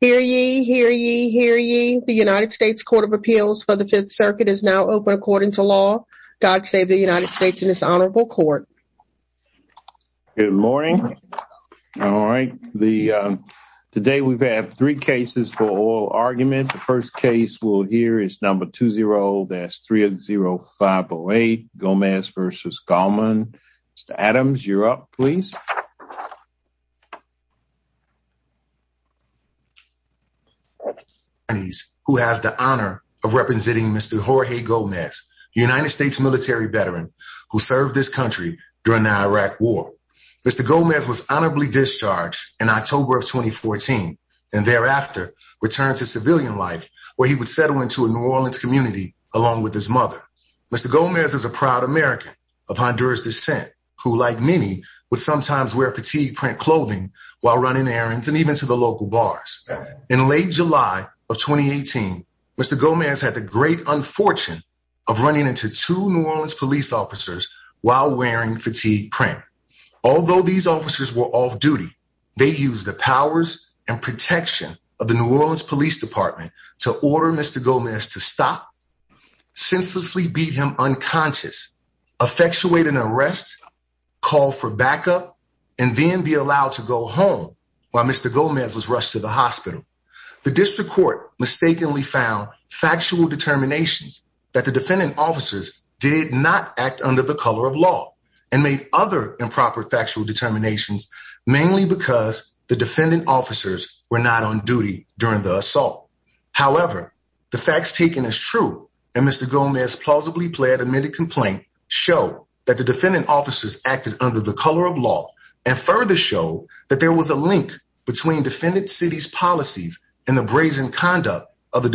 Hear ye, hear ye, hear ye. The United States Court of Appeals for the Fifth Circuit is now open according to law. God save the United States and this honorable court. Good morning. All right. Today we've had three cases for oral argument. The first case we'll hear is number 20-30508, Gomez v. Galman. Mr. Adams, you're up, please. Who has the honor of representing Mr. Jorge Gomez, United States military veteran who served this country during the Iraq war. Mr. Gomez was honorably discharged in October of 2014 and thereafter returned to civilian life where he would settle into a New Orleans community along with his mother. Mr. Gomez is a proud American of Honduras descent who, like many, would sometimes wear fatigue print clothing while running errands and even to the local bars. In late July of 2018, Mr. Gomez had the great unfortune of running into two New Orleans police officers while wearing fatigue print. Although these officers were off duty, they used the powers and protection of the New Orleans police department to order Mr. Gomez to stop, senselessly beat him unconscious, effectuate an arrest, call for backup, and then be allowed to go home while Mr. Gomez was rushed to the hospital. The district court mistakenly found factual determinations that the defendant officers did not act under the color of law and made other improper factual determinations mainly because the defendant officers were not on duty during the assault. However, the facts taken as true and Mr. Gomez's plausibly plead admitted complaint show that the defendant officers acted under the color of law and further show that there was a link between defendant city's policies and the brazen conduct of the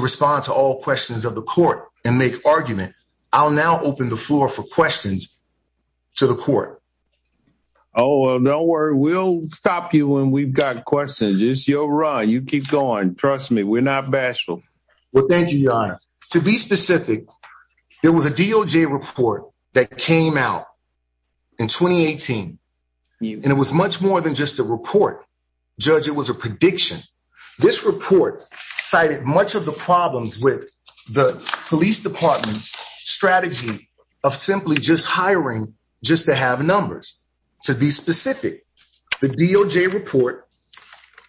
respond to all questions of the court and make argument. I'll now open the floor for questions to the court. Oh, well, don't worry. We'll stop you when we've got questions. It's your run. You keep going. Trust me. We're not bashful. Well, thank you, Your Honor. To be specific, there was a DOJ report that came out in 2018 and it was much more than just a report. Judge, it was a prediction. This report cited much of the problems with the police department's strategy of simply just hiring just to have numbers. To be specific, the DOJ report,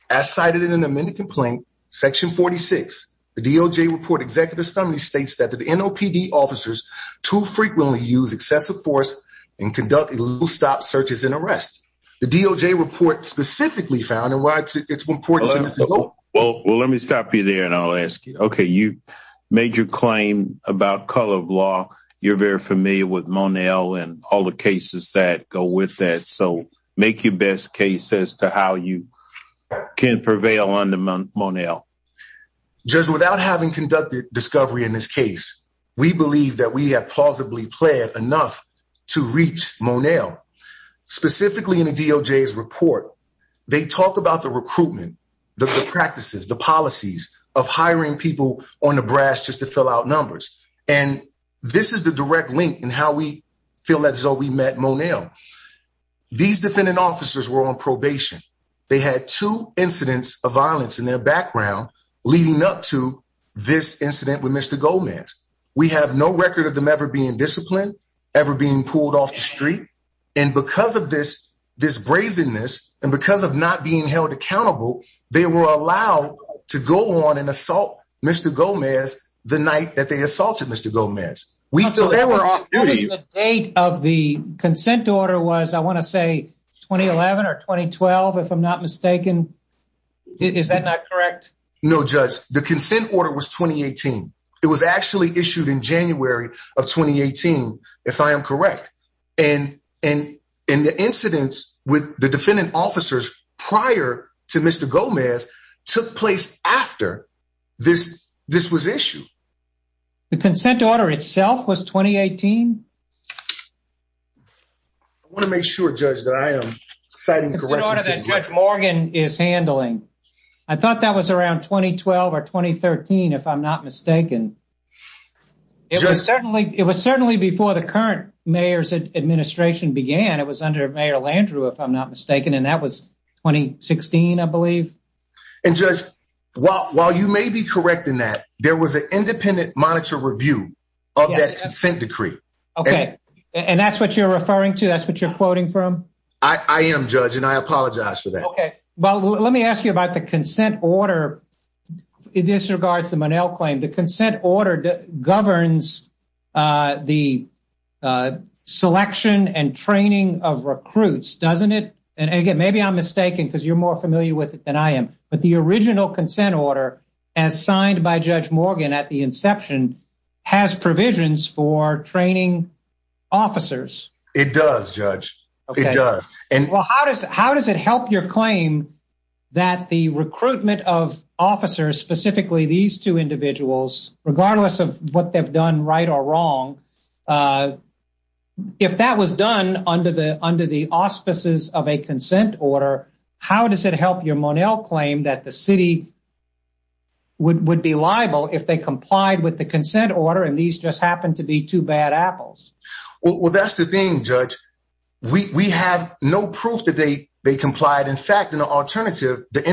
as cited in an amended complaint, section 46, the DOJ report executive summary states that the NOPD officers too frequently use excessive force and conduct a little stop searches and arrests. The DOJ report specifically found and why it's important. Well, well, let me stop you there and I'll ask you, okay, you made your claim about color of law. You're very familiar with Monel and all the cases that go with that. So make your best case as to how you can prevail on the Monel. Judge, without having conducted discovery in this case, we believe that we have plausibly played enough to reach Monel. Specifically in the DOJ's report, they talk about the recruitment, the practices, the policies of hiring people on the brass just to fill out numbers. And this is the direct link in how we feel that Zoe met Monel. These defendant officers were on probation. They had two incidents of violence in their background leading up to this incident with ever being pulled off the street. And because of this, this brazenness, and because of not being held accountable, they were allowed to go on and assault Mr. Gomez the night that they assaulted Mr. Gomez. The date of the consent order was, I want to say 2011 or 2012, if I'm not mistaken. Is that not correct? No, judge, the consent order was 2018. It was actually issued in January of 2018, if I am correct. And the incidents with the defendant officers prior to Mr. Gomez took place after this was issued. The consent order itself was 2018? I want to make sure, judge, that I am citing correctly. The consent order that Judge Morgan is handling. I thought that was around 2012 or 2013, if I'm not mistaken. It was certainly before the current mayor's administration began. It was under Mayor Landrieu, if I'm not mistaken. And that was 2016, I believe. And judge, while you may be correct in that, there was an independent monitor review of that consent decree. Okay. And that's what you're referring to? That's what you're quoting from? I am, judge. And I apologize for that. Okay. Let me ask you about the consent order. It disregards the Monell claim. The consent order governs the selection and training of recruits, doesn't it? And again, maybe I'm mistaken, because you're more familiar with it than I am. But the original consent order, as signed by Judge Morgan at the inception, has provisions for training officers. It does, judge. It does. Well, how does it help your claim that the recruitment of officers, specifically these two individuals, regardless of what they've done right or wrong, if that was done under the auspices of a consent order, how does it help your Monell claim that the city would be liable if they complied with the consent order and these just happen to be two apples? Well, that's the thing, judge. We have no proof that they complied. In fact, in the alternative, the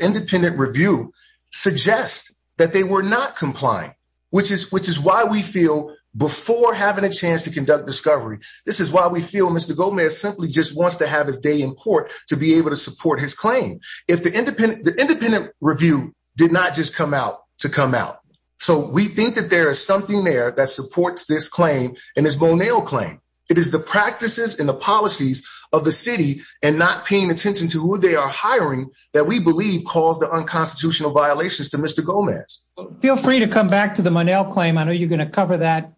independent review suggests that they were not complying, which is why we feel before having a chance to conduct discovery, this is why we feel Mr. Gomez simply just wants to have his day in court to be able to support his claim. If the independent review did not just come out to come out. So we think that there is something there that supports this claim and this Monell claim. It is the practices and the policies of the city and not paying attention to who they are hiring that we believe caused the unconstitutional violations to Mr. Gomez. Feel free to come back to the Monell claim. I know you're going to cover that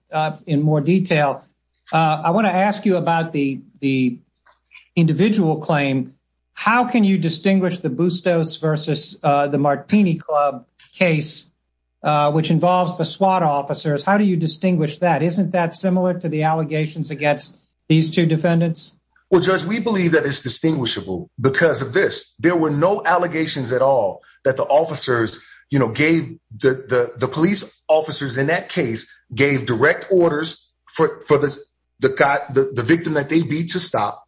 in more detail. I want to ask you about the the individual claim. How can you distinguish the that? Isn't that similar to the allegations against these two defendants? Well, judge, we believe that it's distinguishable because of this. There were no allegations at all that the officers gave the police officers in that case gave direct orders for the victim that they beat to stop.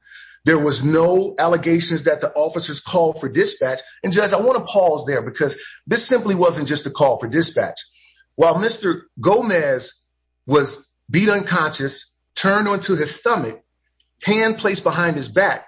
There was no allegations that the officers called for dispatch. And judge, I want to pause there because this simply wasn't just a call for dispatch. While Mr. Gomez was beat unconscious, turned on to his stomach, hand placed behind his back.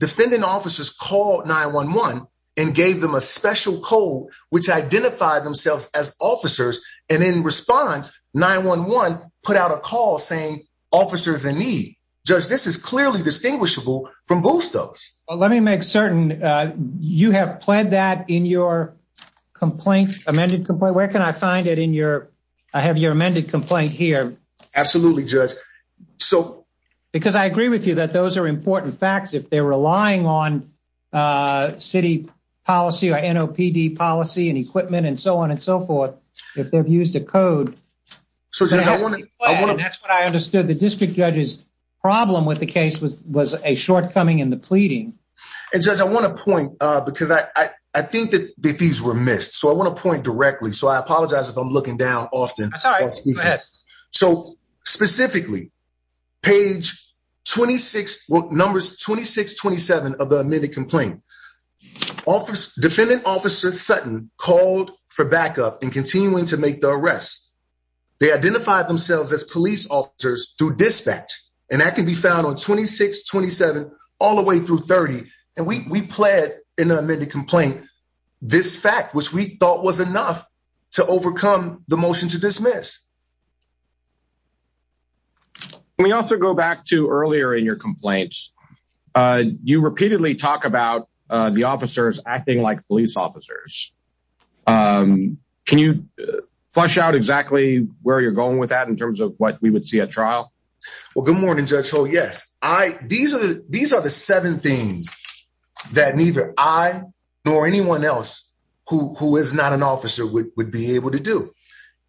Defendant officers called 9-1-1 and gave them a special code which identified themselves as officers. And in response, 9-1-1 put out a call saying officers in need. Judge, this is clearly distinguishable from Bustos. Let me make certain you have pled that in your complaint, amended complaint. Where can I find it in your I have your amended complaint here. Absolutely, judge. So because I agree with you that those are important facts. If they're relying on city policy, NOPD policy and equipment and so on and so forth, if they've used a code. So that's what I understood. The district judge's problem with the case was a shortcoming in the pleading. And judge, I want to point because I think that these were missed. So I want to point directly. So I apologize if I'm looking down often. So specifically, page 26, well numbers 26-27 of the amended complaint. Defendant officer Sutton called for backup and continuing to make the arrest. They identified themselves as police officers through dispatch. And that can be found on 26-27 all the way through 30. And we pled in an amended complaint, this fact which we thought was enough to overcome the motion to dismiss. We also go back to earlier in your complaints. You repeatedly talk about the officers acting like police officers. Can you flesh out exactly where you're going with that in terms of what we would see at trial? Well, good morning, Judge Holt. Yes. These are the seven things that neither I nor anyone else who is not an officer would be able to do.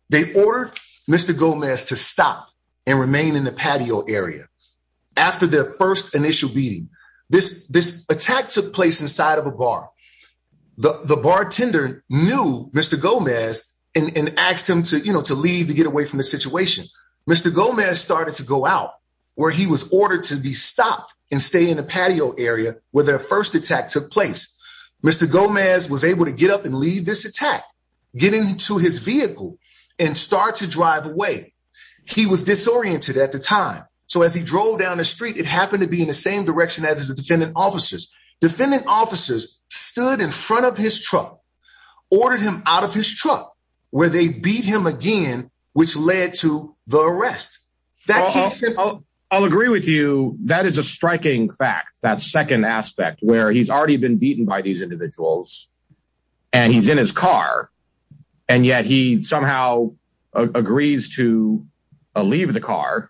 They ordered Mr. Gomez to stop and remain in the patio area. After the first initial beating, this attack took place inside a bar. The bartender knew Mr. Gomez and asked him to leave to get away from the situation. Mr. Gomez started to go out where he was ordered to be stopped and stay in the patio area where their first attack took place. Mr. Gomez was able to get up and leave this attack, get into his vehicle and start to drive away. He was disoriented at the time. So as he drove down the street, it happened to be in the same direction as the defendant officers. Defendant officers stood in front of his truck, ordered him out of his truck where they beat him again, which led to the arrest. I'll agree with you. That is a striking fact. That second aspect where he's already been beaten by these individuals and he's in his car and yet he somehow agrees to leave the car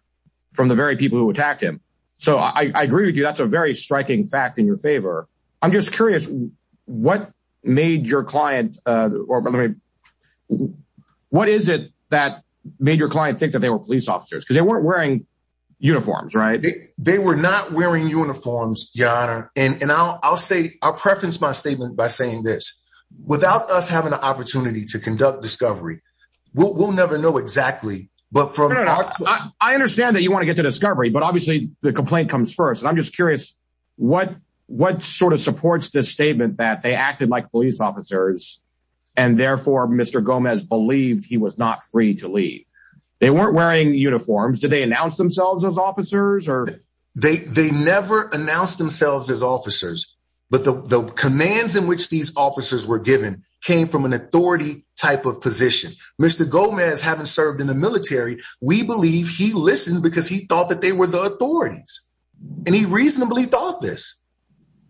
from the very people who attacked him. So I agree with you. That's a very striking fact in your favor. I'm just curious what made your client or what is it that made your client think that they were police officers because they weren't wearing uniforms, right? They were not wearing uniforms, your honor. And I'll say I'll preface my statement by saying this. Without us to conduct discovery, we'll never know exactly. I understand that you want to get to discovery, but obviously the complaint comes first. And I'm just curious what sort of supports this statement that they acted like police officers and therefore Mr. Gomez believed he was not free to leave. They weren't wearing uniforms. Did they announce themselves as officers? They never announced themselves as officers, but the commands in which these officers were given came from an authority type of position. Mr. Gomez having served in the military, we believe he listened because he thought that they were the authorities and he reasonably thought this.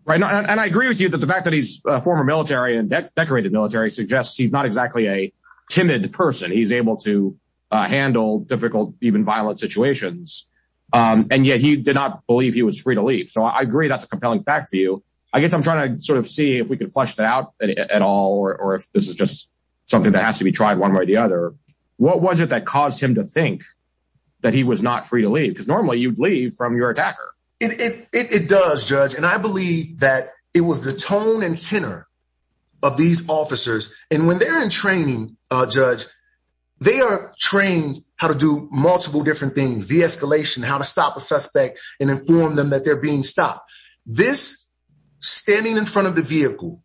Right. And I agree with you that the fact that he's a former military and decorated military suggests he's not exactly a timid person. He's able to handle difficult, even violent situations. And yet he did not believe he was free to leave. So I agree that's a compelling fact for you. I guess I'm trying to sort of see if we could flesh that out at all, or if this is just something that has to be tried one way or the other, what was it that caused him to think that he was not free to leave? Because normally you'd leave from your attacker. It does judge. And I believe that it was the tone and tenor of these officers. And when they're in training judge, they are trained how to do multiple different things, de-escalation, how to stop a suspect and inform them that they're being stopped. This standing in front of the vehicle,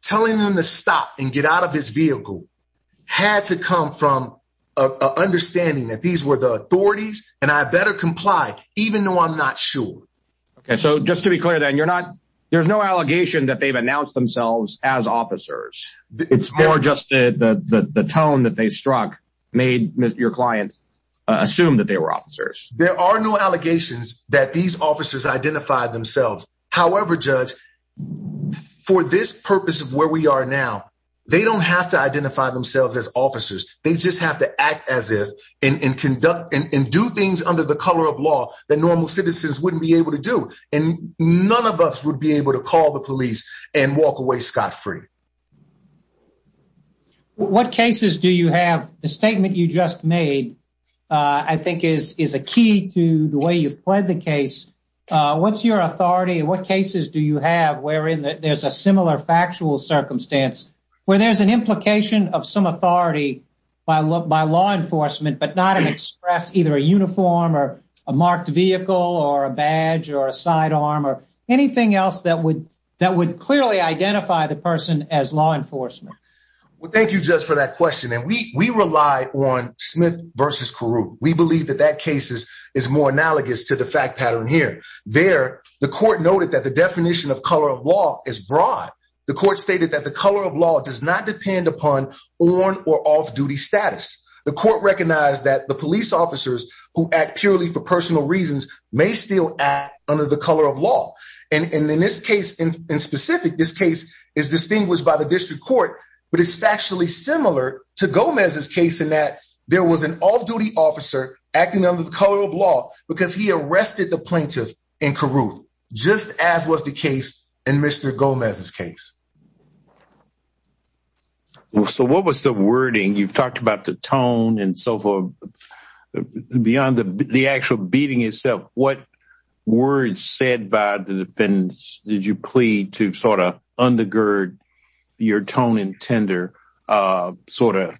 telling them to stop and get out of his vehicle had to come from a understanding that these were the authorities and I better comply, even though I'm not sure. Okay. So just to be clear then you're not, there's no allegation that they've announced themselves as officers. It's more just the tone that they struck made your clients assume that they were officers. There are no allegations that these officers identified themselves. However, judge for this purpose of where we are now, they don't have to identify themselves as officers. They just have to act as if in conduct and do things under the color of law that normal citizens wouldn't be able to do. And none of us would be able to call the police and walk away. Scott free. Well, what cases do you have? The statement you just made, I think is a key to the way you've played the case. What's your authority and what cases do you have wherein there's a similar factual circumstance where there's an implication of some authority by law enforcement, but not an express, either a uniform or a marked vehicle or a badge or a sidearm or anything else that would, clearly identify the person as law enforcement. Well, thank you just for that question. And we, we rely on Smith versus Kuru. We believe that that cases is more analogous to the fact pattern here. There, the court noted that the definition of color of law is broad. The court stated that the color of law does not depend upon on or off duty status. The court recognized that the police officers who act purely for personal reasons may still act under the color of law. And in this case in specific, this case is distinguished by the district court, but it's factually similar to Gomez's case in that there was an off-duty officer acting under the color of law because he arrested the plaintiff in Kuru, just as was the case in Mr. Gomez's case. So what was the wording you've talked about the tone and so forth beyond the actual beating itself, what words said by the defendants did you plead to sort of undergird your tone and tender sort of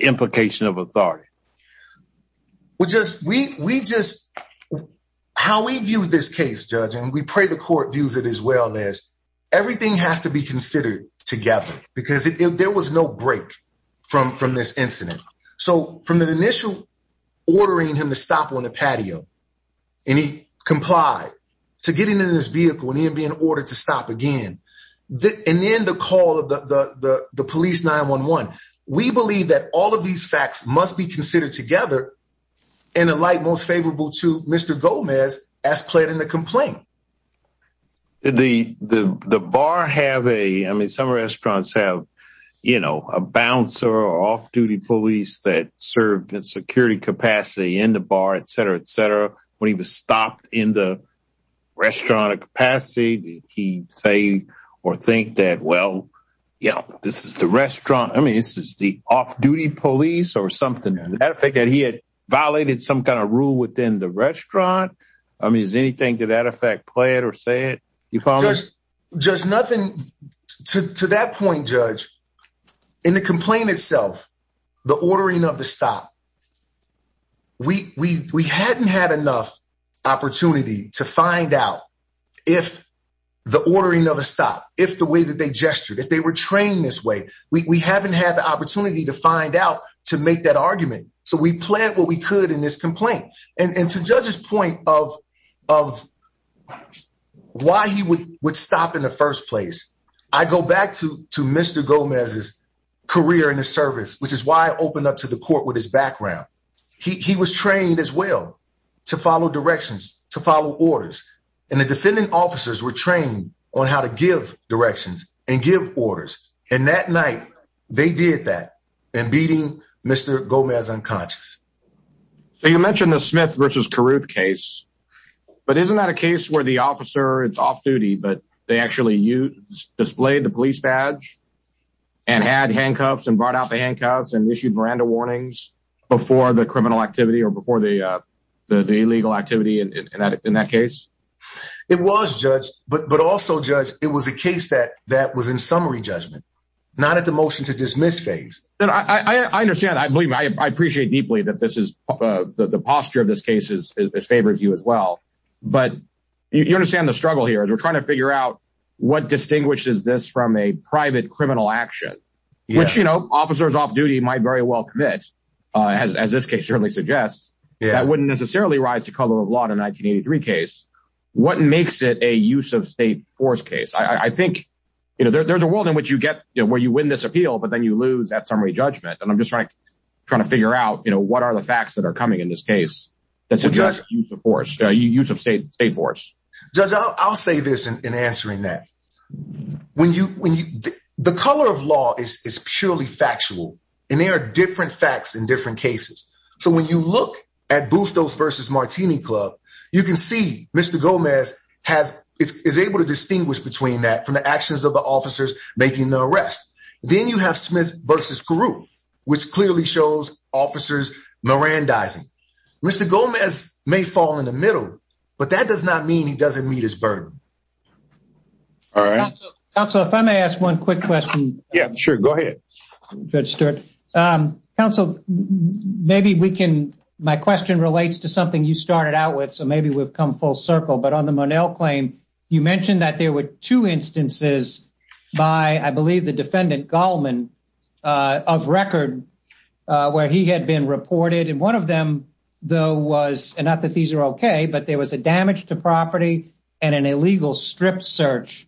implication of authority? We just, we, we just, how we view this case judge, and we pray the court views it as well as everything has to be considered together because there was no break from, from this incident. So from the initial ordering him to stop on the patio and he complied to getting into this vehicle and he didn't be in order to stop again. And then the call of the, the, the, the police 911, we believe that all of these facts must be considered together in a light most favorable to Mr. Gomez as pled in the complaint. The, the, the bar have a, I mean, some restaurants have, you know, a bouncer or off-duty police that served in security capacity in the bar, et cetera, et cetera. When he was stopped in the restaurant capacity, did he say, or think that, well, yeah, this is the restaurant. I mean, this is the off-duty police or something that he had violated some kind of rule within the restaurant. I mean, is anything to that effect, play it or say you follow. Just nothing to, to that point, judge in the complaint itself, the ordering of the stop, we, we, we hadn't had enough opportunity to find out if the ordering of a stop, if the way that they gestured, if they were trained this way, we haven't had the opportunity to find out to make that argument. So we planned what we could in this complaint. And to judge's point of, of why he would, would stop in the first place. I go back to, to Mr. Gomez's career in the service, which is why I opened up to the court with his background. He was trained as well to follow directions, to follow orders. And the defendant officers were trained on how to give directions and give orders. And that night they did that and beating Mr. Gomez unconscious. So you mentioned the Smith versus Caruth case, but isn't that a case where the officer it's off duty, but they actually use displayed the police badge and had handcuffs and brought out the handcuffs and issued Miranda warnings before the criminal activity or before the, uh, the, the illegal activity in that, in that case, it was judged, but, but also judge, it was a case that, that was in summary judgment, not at the motion to dismiss phase. And I, I understand, I believe, I appreciate deeply that this is, uh, the, the posture of this case is as favors you as well, but you understand the struggle here as we're trying to figure out what distinguishes this from a private criminal action, which, you know, officers off duty might very well commit, uh, as, as this case certainly suggests, that wouldn't necessarily rise to color of law in 1983 case, what makes it a use of state force case? I think, you know, there, there's a world in which you get where you win this appeal, but then you lose that summary judgment. And I'm just trying to try to figure out, you know, what are the facts that are coming in this case? That's a judge use of force use of state state force. I'll say this in answering that when you, when you, the color of law is purely factual and they are different facts in different cases. So when you look at boost those versus Martini club, you can see Mr. Gomez has is able to distinguish between that from the actions of officers making the arrest. Then you have Smith versus Kuru, which clearly shows officers Miran dies. Mr. Gomez may fall in the middle, but that does not mean he doesn't meet his burden. All right. So if I may ask one quick question. Yeah, sure. Go ahead. Good start. Um, counsel, maybe we can, my question relates to something you started out with. So maybe we've come full by, I believe the defendant Goldman, uh, of record, uh, where he had been reported. And one of them though was, and not that these are okay, but there was a damage to property and an illegal strip search.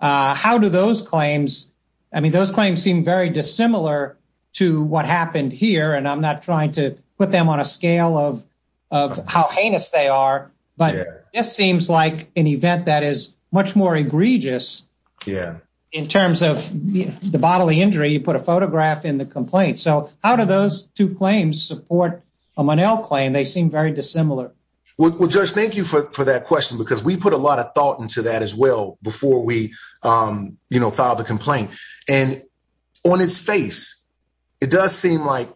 Uh, how do those claims, I mean, those claims seem very dissimilar to what happened here and I'm not trying to put them on a scale of, of how heinous they are, but this seems like an event that is much more egregious. Yeah. In terms of the bodily injury, you put a photograph in the complaint. So how do those two claims support a Monell claim? They seem very dissimilar. Well, judge, thank you for that question because we put a lot of thought into that as well before we, um, you know, filed a complaint and on its face, it does seem like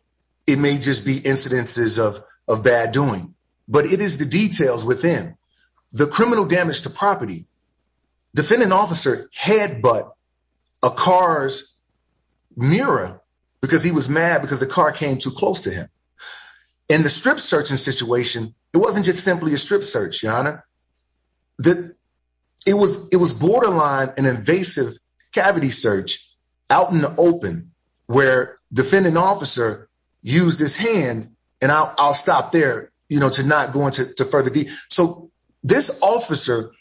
it may just be incidences of, of bad doing, but it is the details within the criminal damage to property. Defendant officer had, but a car's mirror because he was mad because the car came too close to him in the strip searching situation. It wasn't just simply a strip search. Your Honor that it was, it was borderline and invasive cavity search out in the open where defendant officer used his hand and I'll, I'll stop there, you know, to not going to further D. So this officer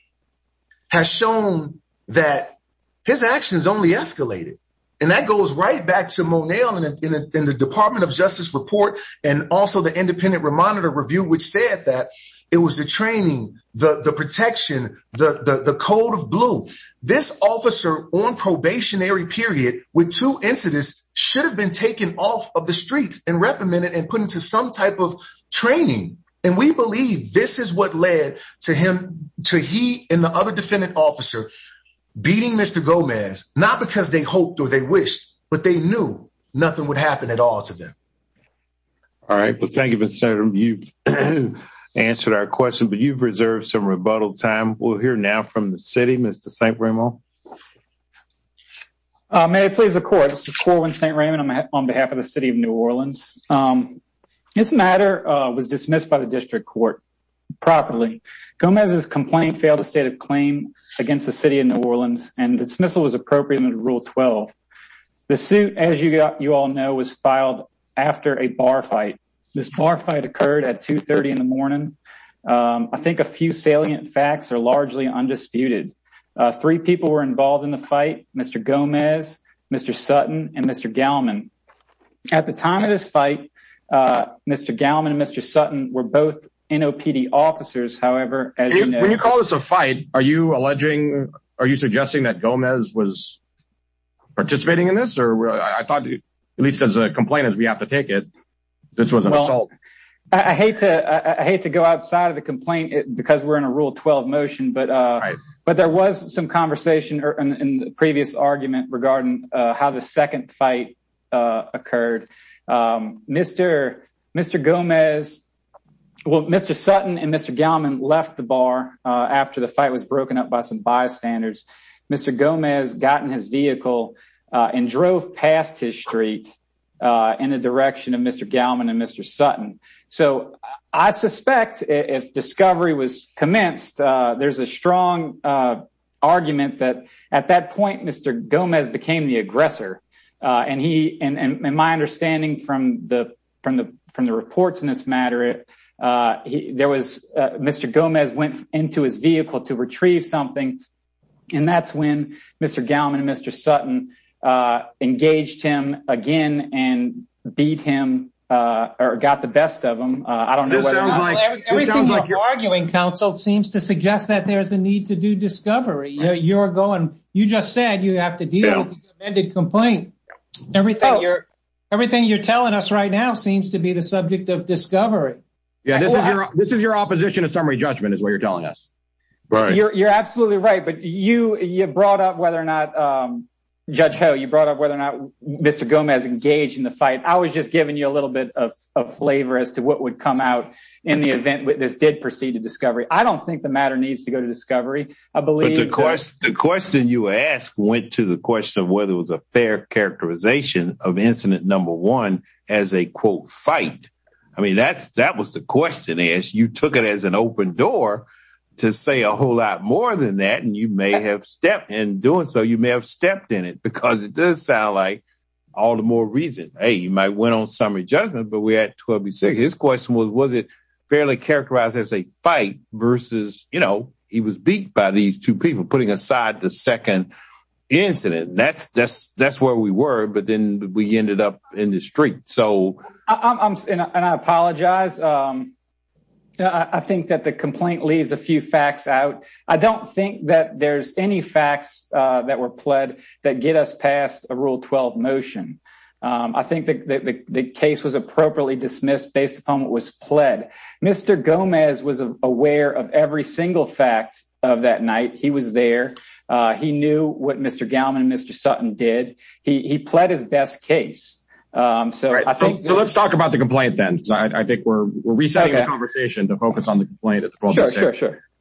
has shown that his actions only escalated. And that goes right back to Monell in the department of justice report and also the independent remonitor review, which said that it was the training, the protection, the, the, the code of blue, this officer on probationary period with two incidents should have been taken off of the streets and reprimanded and put into some type of training. And we believe this is what led to him, to he and the other defendant officer beating Mr. Gomez, not because they hoped or they wished, but they knew nothing would happen at all to them. All right. Well, thank you, Mr. Senator. You've answered our question, but you've reserved some rebuttal time. We'll hear now from the city, Mr. St. Raymond. May I please the court. This is Corwin St. Raymond. I'm on behalf of the city of New Orleans. This matter was dismissed by the district court properly. Gomez's complaint failed to state a claim against the city of New Orleans and dismissal was appropriate under rule 12. The suit as you got, you all know, was filed after a bar fight. This bar fight occurred at three people were involved in the fight. Mr. Gomez, Mr. Sutton, and Mr. Gallman. At the time of this fight, Mr. Gallman and Mr. Sutton were both NOPD officers. However, when you call this a fight, are you alleging, are you suggesting that Gomez was participating in this? Or I thought at least as a complaint, as we have to take it, this was an assault. I hate to, I hate to go outside the complaint because we're in a rule 12 motion, but there was some conversation in the previous argument regarding how the second fight occurred. Mr. Gomez, well Mr. Sutton and Mr. Gallman left the bar after the fight was broken up by some bystanders. Mr. Gomez got in his vehicle and drove past his street in the direction of Mr. Gallman and Mr. Sutton. So I suspect if discovery was commenced, there's a strong argument that at that point Mr. Gomez became the aggressor. And he, and my understanding from the reports in this matter, there was Mr. Gomez went into his again and beat him, or got the best of him. I don't know. Everything you're arguing counsel seems to suggest that there's a need to do discovery. You're going, you just said you have to deal with the amended complaint. Everything you're, everything you're telling us right now seems to be the subject of discovery. Yeah, this is your, this is your opposition to summary judgment is what you're telling us. Right. You're, you're absolutely right, but you, you brought up whether or not, um, Judge Ho, you brought up whether or not Mr. Gomez engaged in the fight. I was just giving you a little bit of flavor as to what would come out in the event that this did proceed to discovery. I don't think the matter needs to go to discovery. I believe the question you asked went to the question of whether it was a fair characterization of incident number one as a quote fight. I mean, that's, that was the question as you took it as an open door to say a whole lot more than that. And you may have stepped in doing so you may have stepped in it because it does sound like all the more reason, Hey, you might win on summary judgment, but we had 12 and six, his question was, was it fairly characterized as a fight versus, you know, he was beat by these two people putting aside the second incident. And that's, that's, that's where we were, but then we ended up in the street. So I'm, and I apologize. Um, I think that the complaint leaves a few facts out. I don't think that there's any facts that were pled that get us past a rule 12 motion. Um, I think that the case was appropriately dismissed based upon what was pled. Mr. Gomez was aware of every single fact of that night. He was there. Uh, he knew what Mr. Gallman and Mr. Sutton did. He, he pled his best case. Um, so let's talk about the complaint then. I think we're resetting the conversation to focus on the complaint.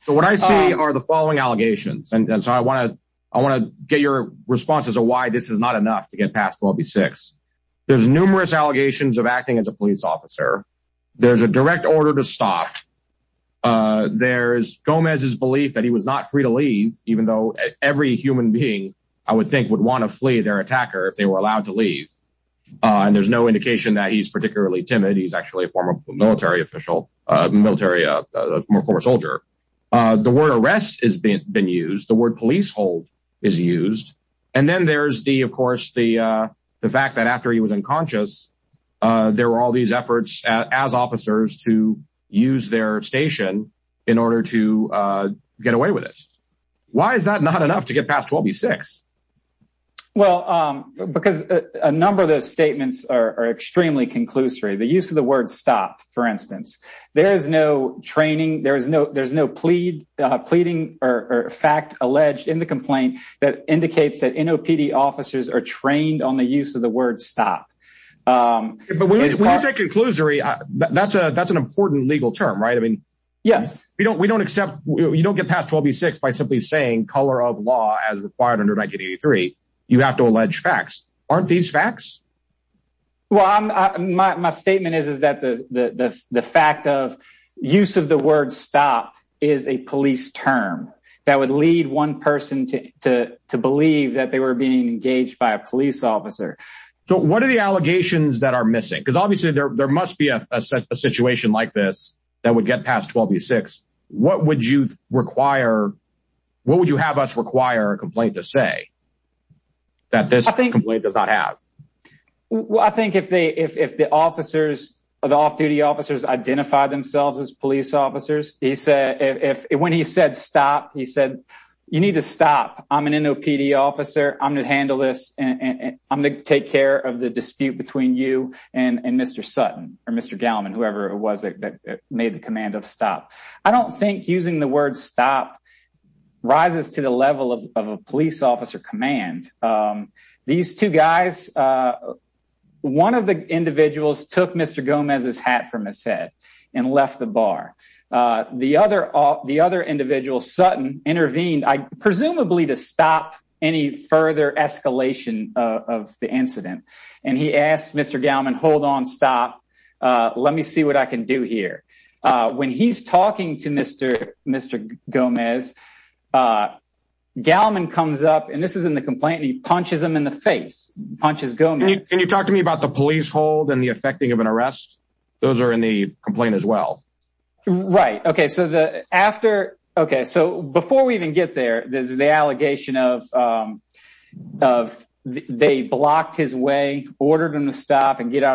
So what I see are the following allegations. And so I want to, I want to get your responses or why this is not enough to get past 12 be six. There's numerous allegations of acting as a police officer. There's a direct order to stop. Uh, there's Gomez's belief that he was not free to leave, even though every human being I would think would want to flee their attacker if they were allowed to leave. Uh, and there's no official, uh, military, uh, more former soldier. Uh, the word arrest has been used. The word police hold is used. And then there's the, of course, the, uh, the fact that after he was unconscious, uh, there were all these efforts as officers to use their station in order to, uh, get away with it. Why is that not enough to get past 12 be six? Well, um, because a number of those statements are extremely conclusory. The use of the word stop, for instance, there is no training. There is no, there's no plead, uh, pleading or fact alleged in the complaint that indicates that NOPD officers are trained on the use of the word stop. Um, but when you say conclusory, that's a, that's an important legal term, right? I mean, yes, we don't, we don't accept, you don't get past 12 be six by simply saying color of law as required under 1983, you have to allege facts. Aren't these facts? Well, I'm my, my statement is, is that the, the, the, the fact of use of the word stop is a police term that would lead one person to, to, to believe that they were being engaged by a police officer. So what are the allegations that are missing? Cause obviously there, there must be a situation like this that would get past 12 be six. What would you require? What would you have us require a complaint to say that this complaint does not have? Well, I think if they, if, if the officers or the off duty officers identify themselves as police officers, he said, if, when he said, stop, he said, you need to stop. I'm an NOPD officer. I'm going to handle this and I'm going to take care of the dispute between you and Mr. Sutton or Mr. Gallman, whoever it was that made the command of stop. I don't think using the word stop rises to the level of, of a police officer command. These two guys, one of the individuals took Mr. Gomez's hat from his head and left the bar. The other, the other individual Sutton intervened, presumably to stop any further escalation of the incident. And he asked Mr. Gallman, hold on, stop. Let me see what I can do here. When he's talking to Mr. Mr. Gomez, Gallman comes up and this is in the complaint and he punches him in the face, punches Gomez. Can you talk to me about the police hold and the effecting of an arrest? Those are in the complaint as well. Right. Okay. So the after, okay. So before we even get there, there's the out of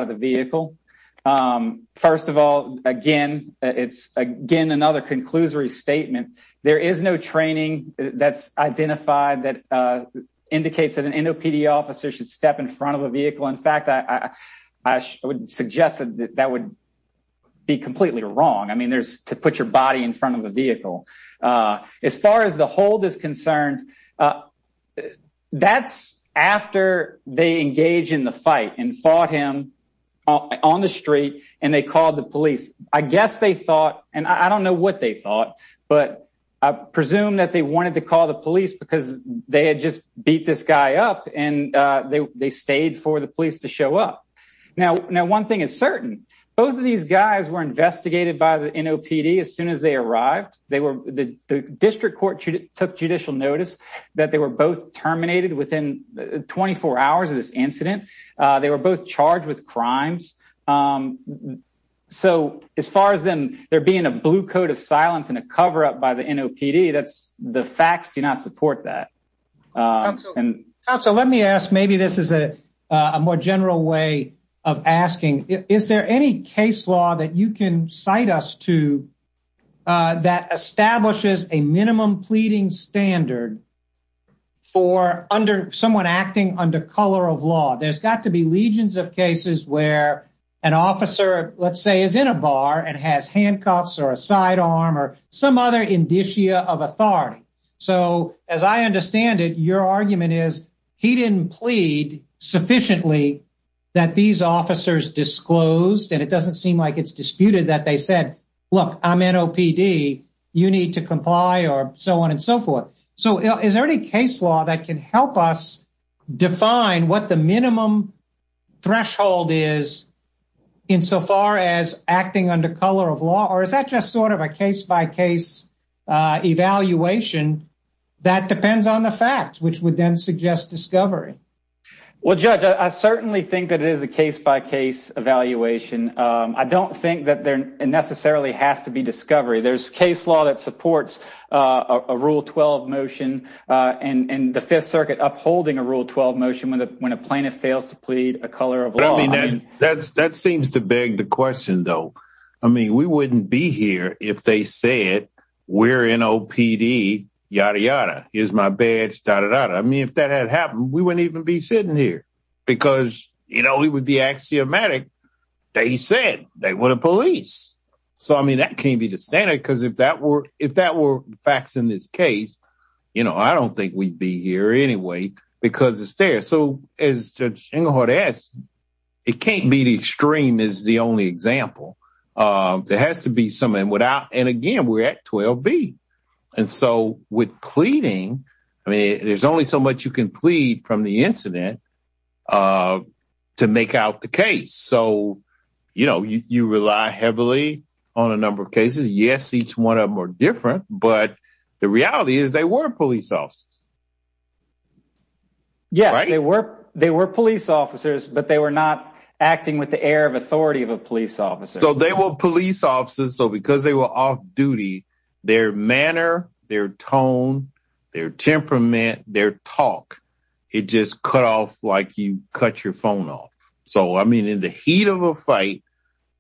the vehicle. First of all, again, it's again, another conclusory statement. There is no training that's identified that indicates that an NOPD officer should step in front of a vehicle. In fact, I would suggest that that would be completely wrong. I mean, there's to put your body in front of the vehicle. As far as the hold is concerned, uh, that's after they engage in the fight and fought him on the street and they called the police. I guess they thought, and I don't know what they thought, but I presume that they wanted to call the police because they had just beat this guy up and, uh, they, they stayed for the police to show up. Now, now one thing is certain, both of these guys were investigated by the NOPD as soon as they arrived. They were the district court took judicial notice that they were both terminated within 24 hours of this incident. Uh, they were both charged with crimes. Um, so as far as them, there being a blue coat of silence and a coverup by the NOPD, that's the facts do not support that. Uh, and so let me ask, maybe this is a, uh, a more general way of asking, is there any case law that you can cite us to, uh, that establishes a minimum pleading standard for under someone acting under color of law? There's got to be legions of cases where an officer, let's say is in a bar and has handcuffs or a sidearm or some other indicia of officers disclosed. And it doesn't seem like it's disputed that they said, look, I'm NOPD, you need to comply or so on and so forth. So is there any case law that can help us define what the minimum threshold is insofar as acting under color of law, or is that just sort of a case by case, uh, evaluation that depends on the facts, which would then suggest discovery? Well, judge, I certainly think that it is a case by case evaluation. Um, I don't think that there necessarily has to be discovery. There's case law that supports, uh, a rule 12 motion, uh, and, and the fifth circuit upholding a rule 12 motion when the, when a plaintiff fails to plead a color of law. I mean, that's, that's, that seems to beg the question though. I mean, we wouldn't be here if they say it, we're NOPD, yada, yada, here's my badge, dada, dada. I mean, if that had happened, we wouldn't even be sitting here because, you know, he would be axiomatic. They said they were the police. So, I mean, that can't be the standard. Cause if that were, if that were facts in this case, you know, I don't think we'd be here anyway, because it's there. So as judge, it can't be the extreme is the only example. Um, there has to be some, and without, and again, we're at 12 B. And so with pleading, I mean, there's only so much you can plead from the incident, uh, to make out the case. So, you know, you, you rely heavily on a number of cases. Yes. Each one of them are different, but the reality is they weren't police officers. Yes, they were, they were police officers, but they were not acting with the air of authority of a police officer. So they were police officers. So because they were off duty, their manner, their tone, their temperament, their talk, it just cut off like you cut your phone off. So, I mean, in the heat of a fight,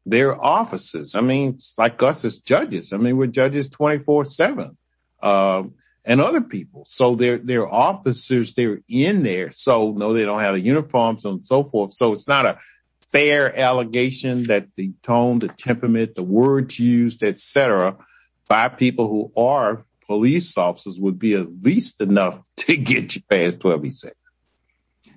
their offices, I mean, like us as judges, I mean, we're judges 24 seven, um, and other people. So they're, they're officers they're in there. So no, they don't have the uniforms and so forth. So it's not a fair allegation that the tone, the temperament, the words used, et cetera, by people who are police officers would be at least enough to get you past 12. He said,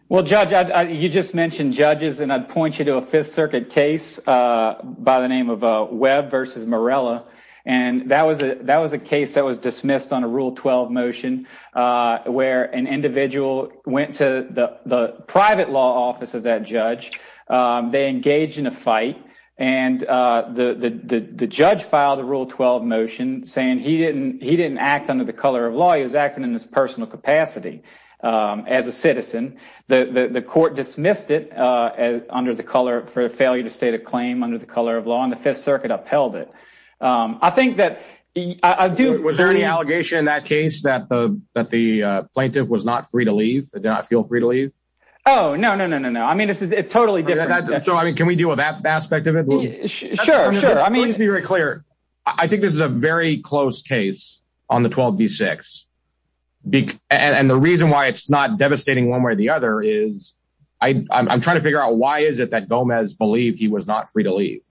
well, judge, I, you just mentioned judges and I'd point you to a fifth circuit case, uh, by the name of a web versus Morella. And that was a, that was a case that was dismissed on a rule 12 motion, uh, where an individual went to the private law office of that judge. Um, they engaged in a fight and, uh, the, the, the, the judge filed a rule 12 motion saying he didn't, he didn't act under the color of law. He was acting in his personal capacity. Um, as a citizen, the, the, the court dismissed it, uh, as under the color for a failure to state claim under the color of law and the fifth circuit upheld it. Um, I think that, um, I do, was there any allegation in that case that the, that the, uh, plaintiff was not free to leave and did not feel free to leave? Oh, no, no, no, no, no. I mean, it's, it's totally different. So, I mean, can we deal with that aspect of it? Sure. Sure. I mean, let's be very clear. I think this is a very close case on the 12 B six B and the reason why it's not devastating one way or the other is I, I'm trying to figure out why is it that Gomez believed he was not free to leave?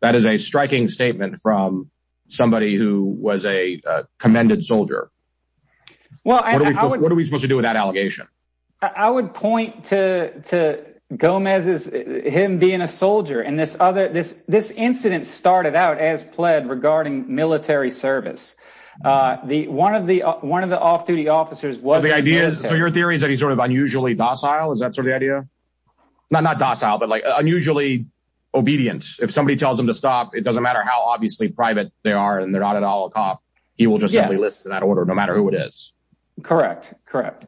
That is a striking statement from somebody who was a commended soldier. Well, what are we supposed to do with that allegation? I would point to, to Gomez is him being a soldier and this other, this, this incident started out as pled regarding military service. Uh, the, one of the, one of the off duty officers was the idea. So your theory is that he's sort of unusually docile. Is that sort of the idea? Not, not docile, but like unusually obedient. If somebody tells him to stop, it doesn't matter how obviously private they are and they're not at all a cop. He will just simply listen to that order no matter who it is. Correct. Correct.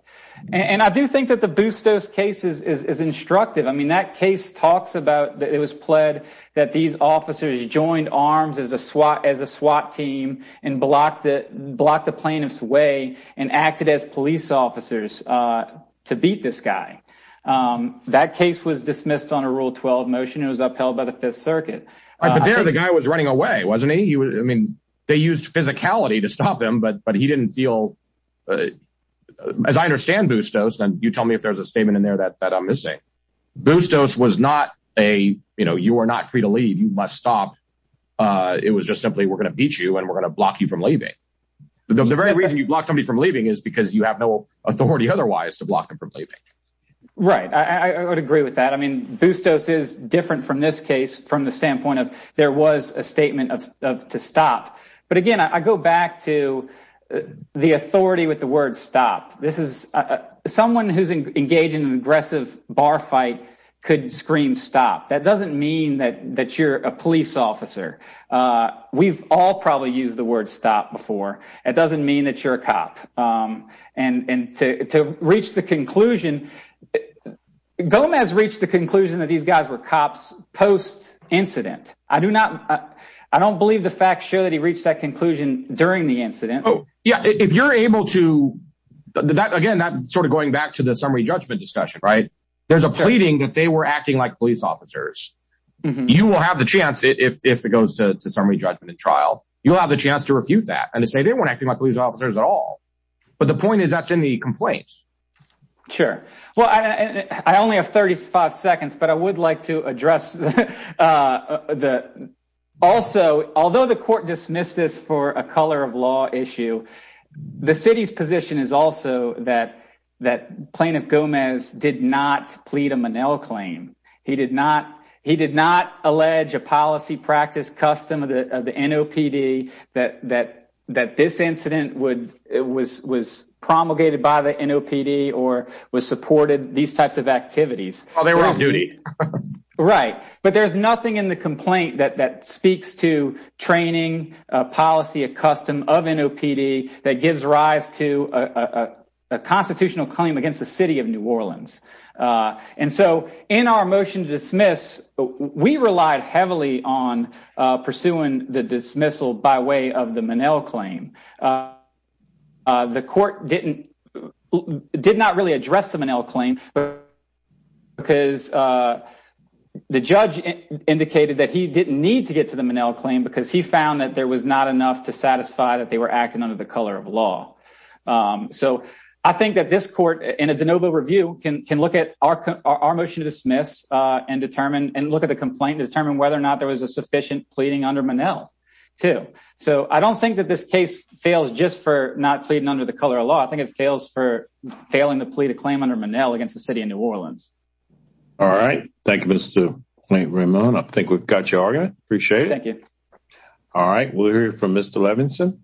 And I do think that the boost dose cases is, is instructive. I mean, that case talks about that it was pled that these officers joined arms as a SWAT, as a SWAT team and blocked it, blocked the plaintiff's way and acted as police officers, uh, to beat this guy. Um, that case was dismissed on a rule 12 motion. It was upheld by the fifth circuit. Right. But there, the guy was running away, wasn't he? He was, I mean, they used physicality to stop him, but, but he didn't feel as I understand boost dose. And you tell me if there's a statement in there that, that I'm free to leave, you must stop. Uh, it was just simply, we're going to beat you and we're going to block you from leaving. But the very reason you block somebody from leaving is because you have no authority otherwise to block them from leaving. Right. I would agree with that. I mean, boost dose is different from this case, from the standpoint of there was a statement of, of to stop. But again, I go back to the authority with the word stop. This is someone who's engaged in that you're a police officer. Uh, we've all probably used the word stop before. It doesn't mean that you're a cop. Um, and, and to, to reach the conclusion, Gomez reached the conclusion that these guys were cops post incident. I do not, I don't believe the facts show that he reached that conclusion during the incident. Oh yeah. If you're able to that, again, that sort of going back to the summary judgment discussion, right. There's a pleading that they were acting like police officers. You will have the chance if it goes to summary judgment and trial, you'll have the chance to refute that and to say they weren't acting like police officers at all. But the point is that's in the complaint. Sure. Well, I only have 35 seconds, but I would like to address, uh, the also, although the court dismissed this for a claim, he did not, he did not allege a policy practice custom of the NOPD that, that, that this incident would, it was, was promulgated by the NOPD or was supported these types of activities while they were on duty. Right. But there's nothing in the complaint that, that speaks to training a policy of custom of NOPD that gives rise to a constitutional claim against the city of New Orleans. Uh, and so in our motion to dismiss, we relied heavily on, uh, pursuing the dismissal by way of the Monell claim. Uh, uh, the court didn't, did not really address the Monell claim because, uh, the judge indicated that he didn't need to get to the Monell claim because he found that there was not enough to satisfy that they were in a de novo review can, can look at our, our motion to dismiss, uh, and determine and look at the complaint to determine whether or not there was a sufficient pleading under Monell too. So I don't think that this case fails just for not pleading under the color of law. I think it fails for failing to plead a claim under Monell against the city of New Orleans. All right. Thank you, Mr. Raymond. I think we've got your argument. Appreciate it. Thank you. All right. We'll hear from Mr. Levinson.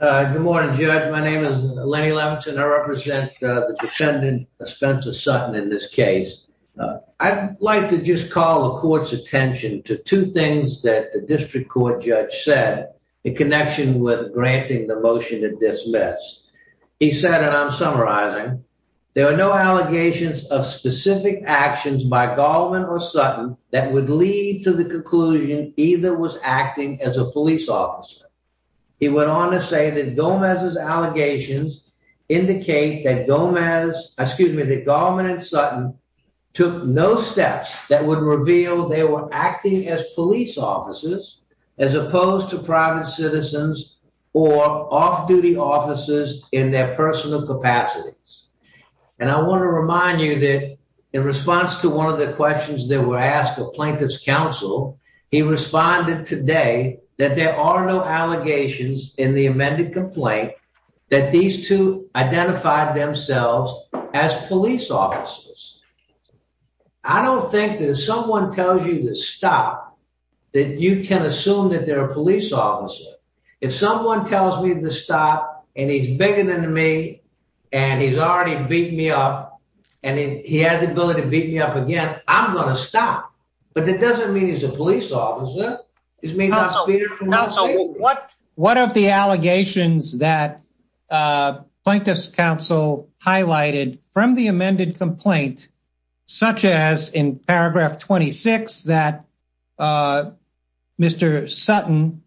Uh, good morning, Judge. My name is Lenny Levinson. I represent the defendant Spencer Sutton. In this case, I'd like to just call the court's attention to two things that the district court judge said in connection with granting the motion to dismiss. He said, and I'm summarizing, there are no allegations of specific actions by Goldman or Sutton that would lead to the conclusion either was acting as a police officer. He went on to say that Gomez's allegations indicate that Gomez, excuse me, that Goldman and Sutton took no steps that would reveal they were acting as police officers as opposed to private citizens or off duty officers in their personal capacities. And I want to remind you that in response to one of the questions that were asked of plaintiff's counsel, he responded today that there are no allegations in the amended complaint that these two identified themselves as police officers. I don't think that if someone tells you to stop, that you can assume that they're a police officer. If someone tells me to stop and he's bigger than me and he's already beat me up and he has the ability to beat me up again, I'm going to stop. But that doesn't mean he's a police officer. He's made out to be. One of the allegations that plaintiff's counsel highlighted from the amended complaint, such as in paragraph 26, that Mr. Sutton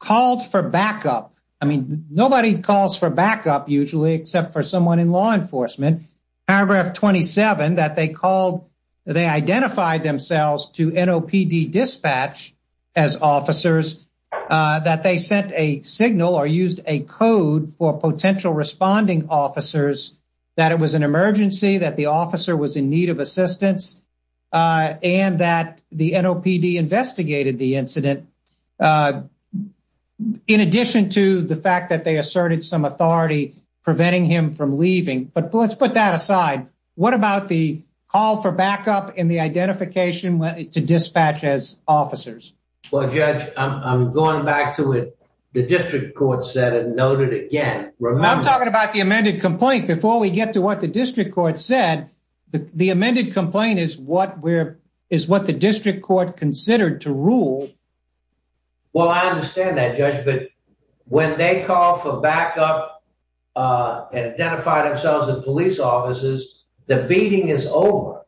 called for backup. I mean, nobody calls for backup usually except for someone in law enforcement. Paragraph 27, that they called, they identified themselves to NOPD dispatch as officers, that they sent a signal or used a code for potential responding officers, that it was an emergency, that the officer was in need of assistance, and that the NOPD investigated the incident. In addition to the fact that they asserted some preventing him from leaving. But let's put that aside. What about the call for backup in the identification to dispatch as officers? Well, Judge, I'm going back to what the district court said and noted again. I'm talking about the amended complaint. Before we get to what the district court said, the amended complaint is what the district court considered to rule. Well, I understand that, Judge, but when they call for backup and identified themselves as police officers, the beating is over.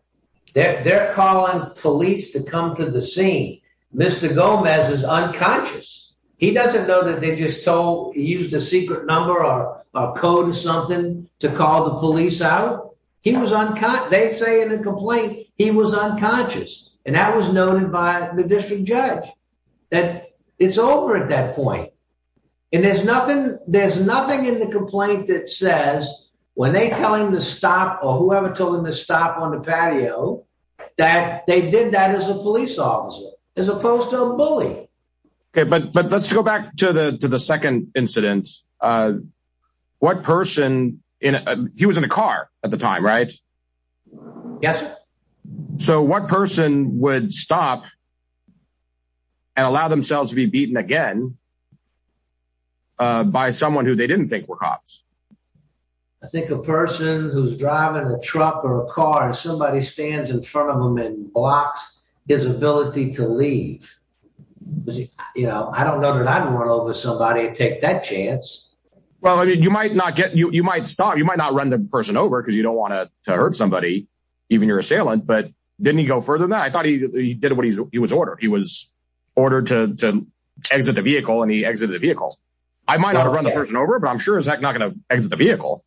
They're calling police to come to the scene. Mr. Gomez is unconscious. He doesn't know that they just used a secret number or a code or something to call the police out. He was unconscious. They say in the complaint, he was unconscious, and that was noted by the district judge, that it's over at that point. There's nothing in the complaint that says, when they tell him to stop or whoever told him to stop on the patio, that they did that as a police officer, as opposed to a bully. Okay, but let's go back to the second incident. He was in a car at the time, right? Yes, sir. So what person would stop and allow themselves to be beaten again by someone who they didn't think were cops? I think a person who's driving a truck or a car and somebody stands in front of them and blocks his ability to leave. I don't know that I'd run over somebody and take that chance. Well, you might not run the person over because you don't want to hurt somebody, even your assailant, but didn't he go further than that? I thought he did what he was ordered. He was ordered to exit the vehicle and he exited the vehicle. I might not have run the person over, but I'm sure he's not going to exit the vehicle.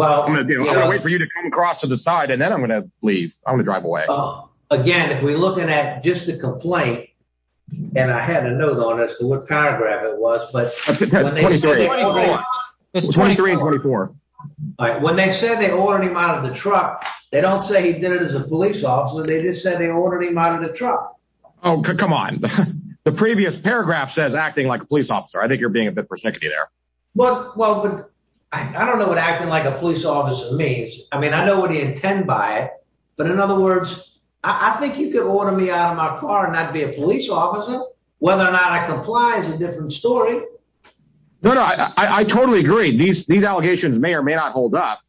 I'm going to wait for you to come across to the side and then I'm going to leave. I'm going to drive away. Again, if we're looking at just the 23 and 24. All right. When they said they ordered him out of the truck, they don't say he did it as a police officer. They just said they ordered him out of the truck. Oh, come on. The previous paragraph says acting like a police officer. I think you're being a bit persnickety there. Well, I don't know what acting like a police officer means. I mean, I know what he intend by it, but in other words, I think you could order me out of my car and not a police officer. Whether or not I comply is a different story. No, no, I totally agree. These allegations may or may not hold up.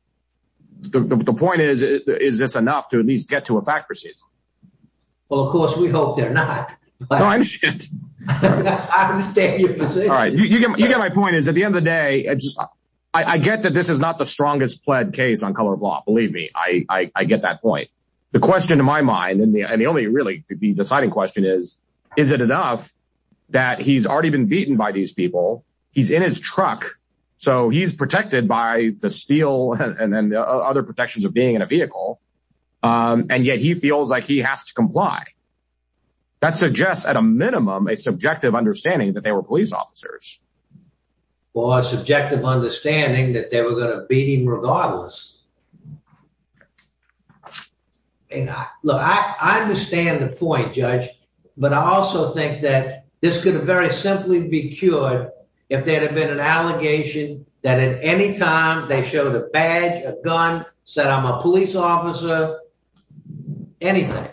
The point is, is this enough to at least get to a fact receipt? Well, of course we hope they're not. No, I understand. I understand your position. All right. You get my point is at the end of the day, I get that this is not the strongest pled case on color of law. Believe me, I get that point. The question in my mind and the really the deciding question is, is it enough that he's already been beaten by these people? He's in his truck, so he's protected by the steel and then the other protections of being in a vehicle, and yet he feels like he has to comply. That suggests at a minimum a subjective understanding that they were police officers. Well, a subjective understanding that they were going to beat him to the point, Judge. But I also think that this could very simply be cured if there had been an allegation that at any time they showed a badge, a gun, said I'm a police officer, anything.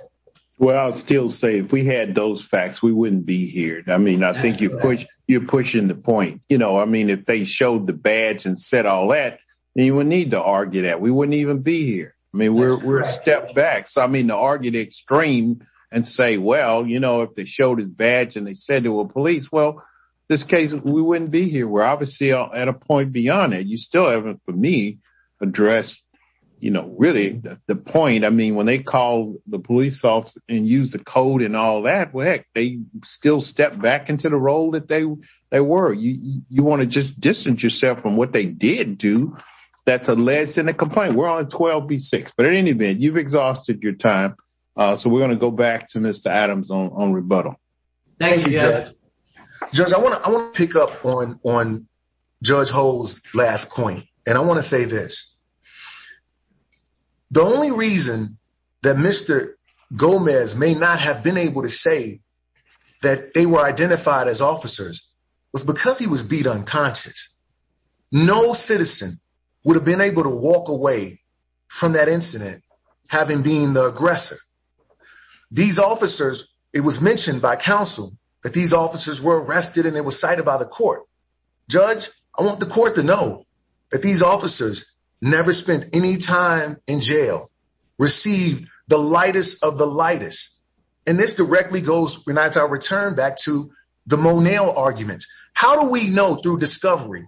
Well, I'll still say if we had those facts, we wouldn't be here. I mean, I think you're pushing the point. You know, I mean, if they showed the badge and said all that, you wouldn't need to and say, well, you know, if they showed his badge and they said to a police, well, this case, we wouldn't be here. We're obviously at a point beyond it. You still haven't for me addressed, you know, really the point. I mean, when they call the police off and use the code and all that way, they still step back into the role that they were. You want to just distance yourself from what they did do. That's a less than a complaint. We're on 12 B6. But in any You've exhausted your time. So we're going to go back to Mr. Adams on rebuttal. Judge, I want to pick up on on Judge Ho's last point. And I want to say this. The only reason that Mr. Gomez may not have been able to say that they were identified as officers was because he was beat unconscious. No citizen would have been able to walk away from that incident having being the aggressor. These officers, it was mentioned by counsel that these officers were arrested and it was cited by the court. Judge, I want the court to know that these officers never spent any time in jail, received the lightest of the lightest. And this directly goes when I return back to the Moneo arguments. How do we know through discovery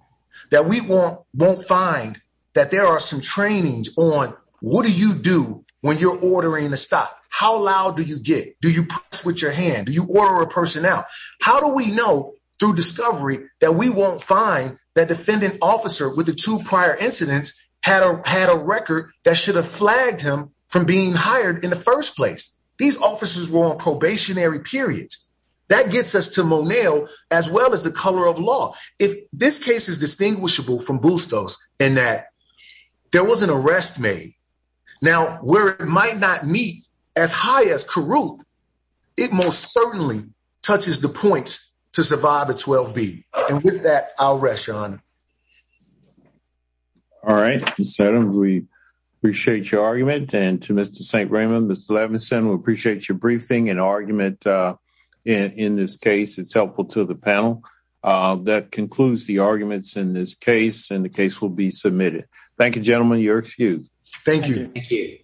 that we won't find that there are some trainings on what do you do when you're ordering a stop? How loud do you get? Do you switch your hand? Do you order a person out? How do we know through discovery that we won't find that defendant officer with the two prior incidents had a record that should have flagged him from being hired in the first place? These officers were on probationary periods. That gets us to Moneo as well as the color of law. If this case is distinguishable from Bustos in that there was an arrest made, now where it might not meet as high as Carruth, it most certainly touches the points to survive a 12-B. And with that, I'll rest, Your Honor. All right, Mr. Seddon, we appreciate your argument. And to Mr. St. Raymond, Mr. Levinson, we appreciate your briefing and argument in this case. It's helpful to the panel. That concludes the arguments in this case, and the case will be submitted. Thank you, gentlemen. You're excused. Thank you. Thank you.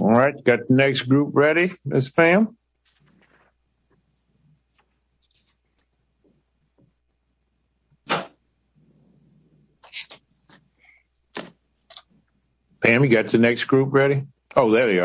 All right, got the next group ready, Ms. Pham? Ms. Pham, you got the next group ready? Oh, there you are. Okay.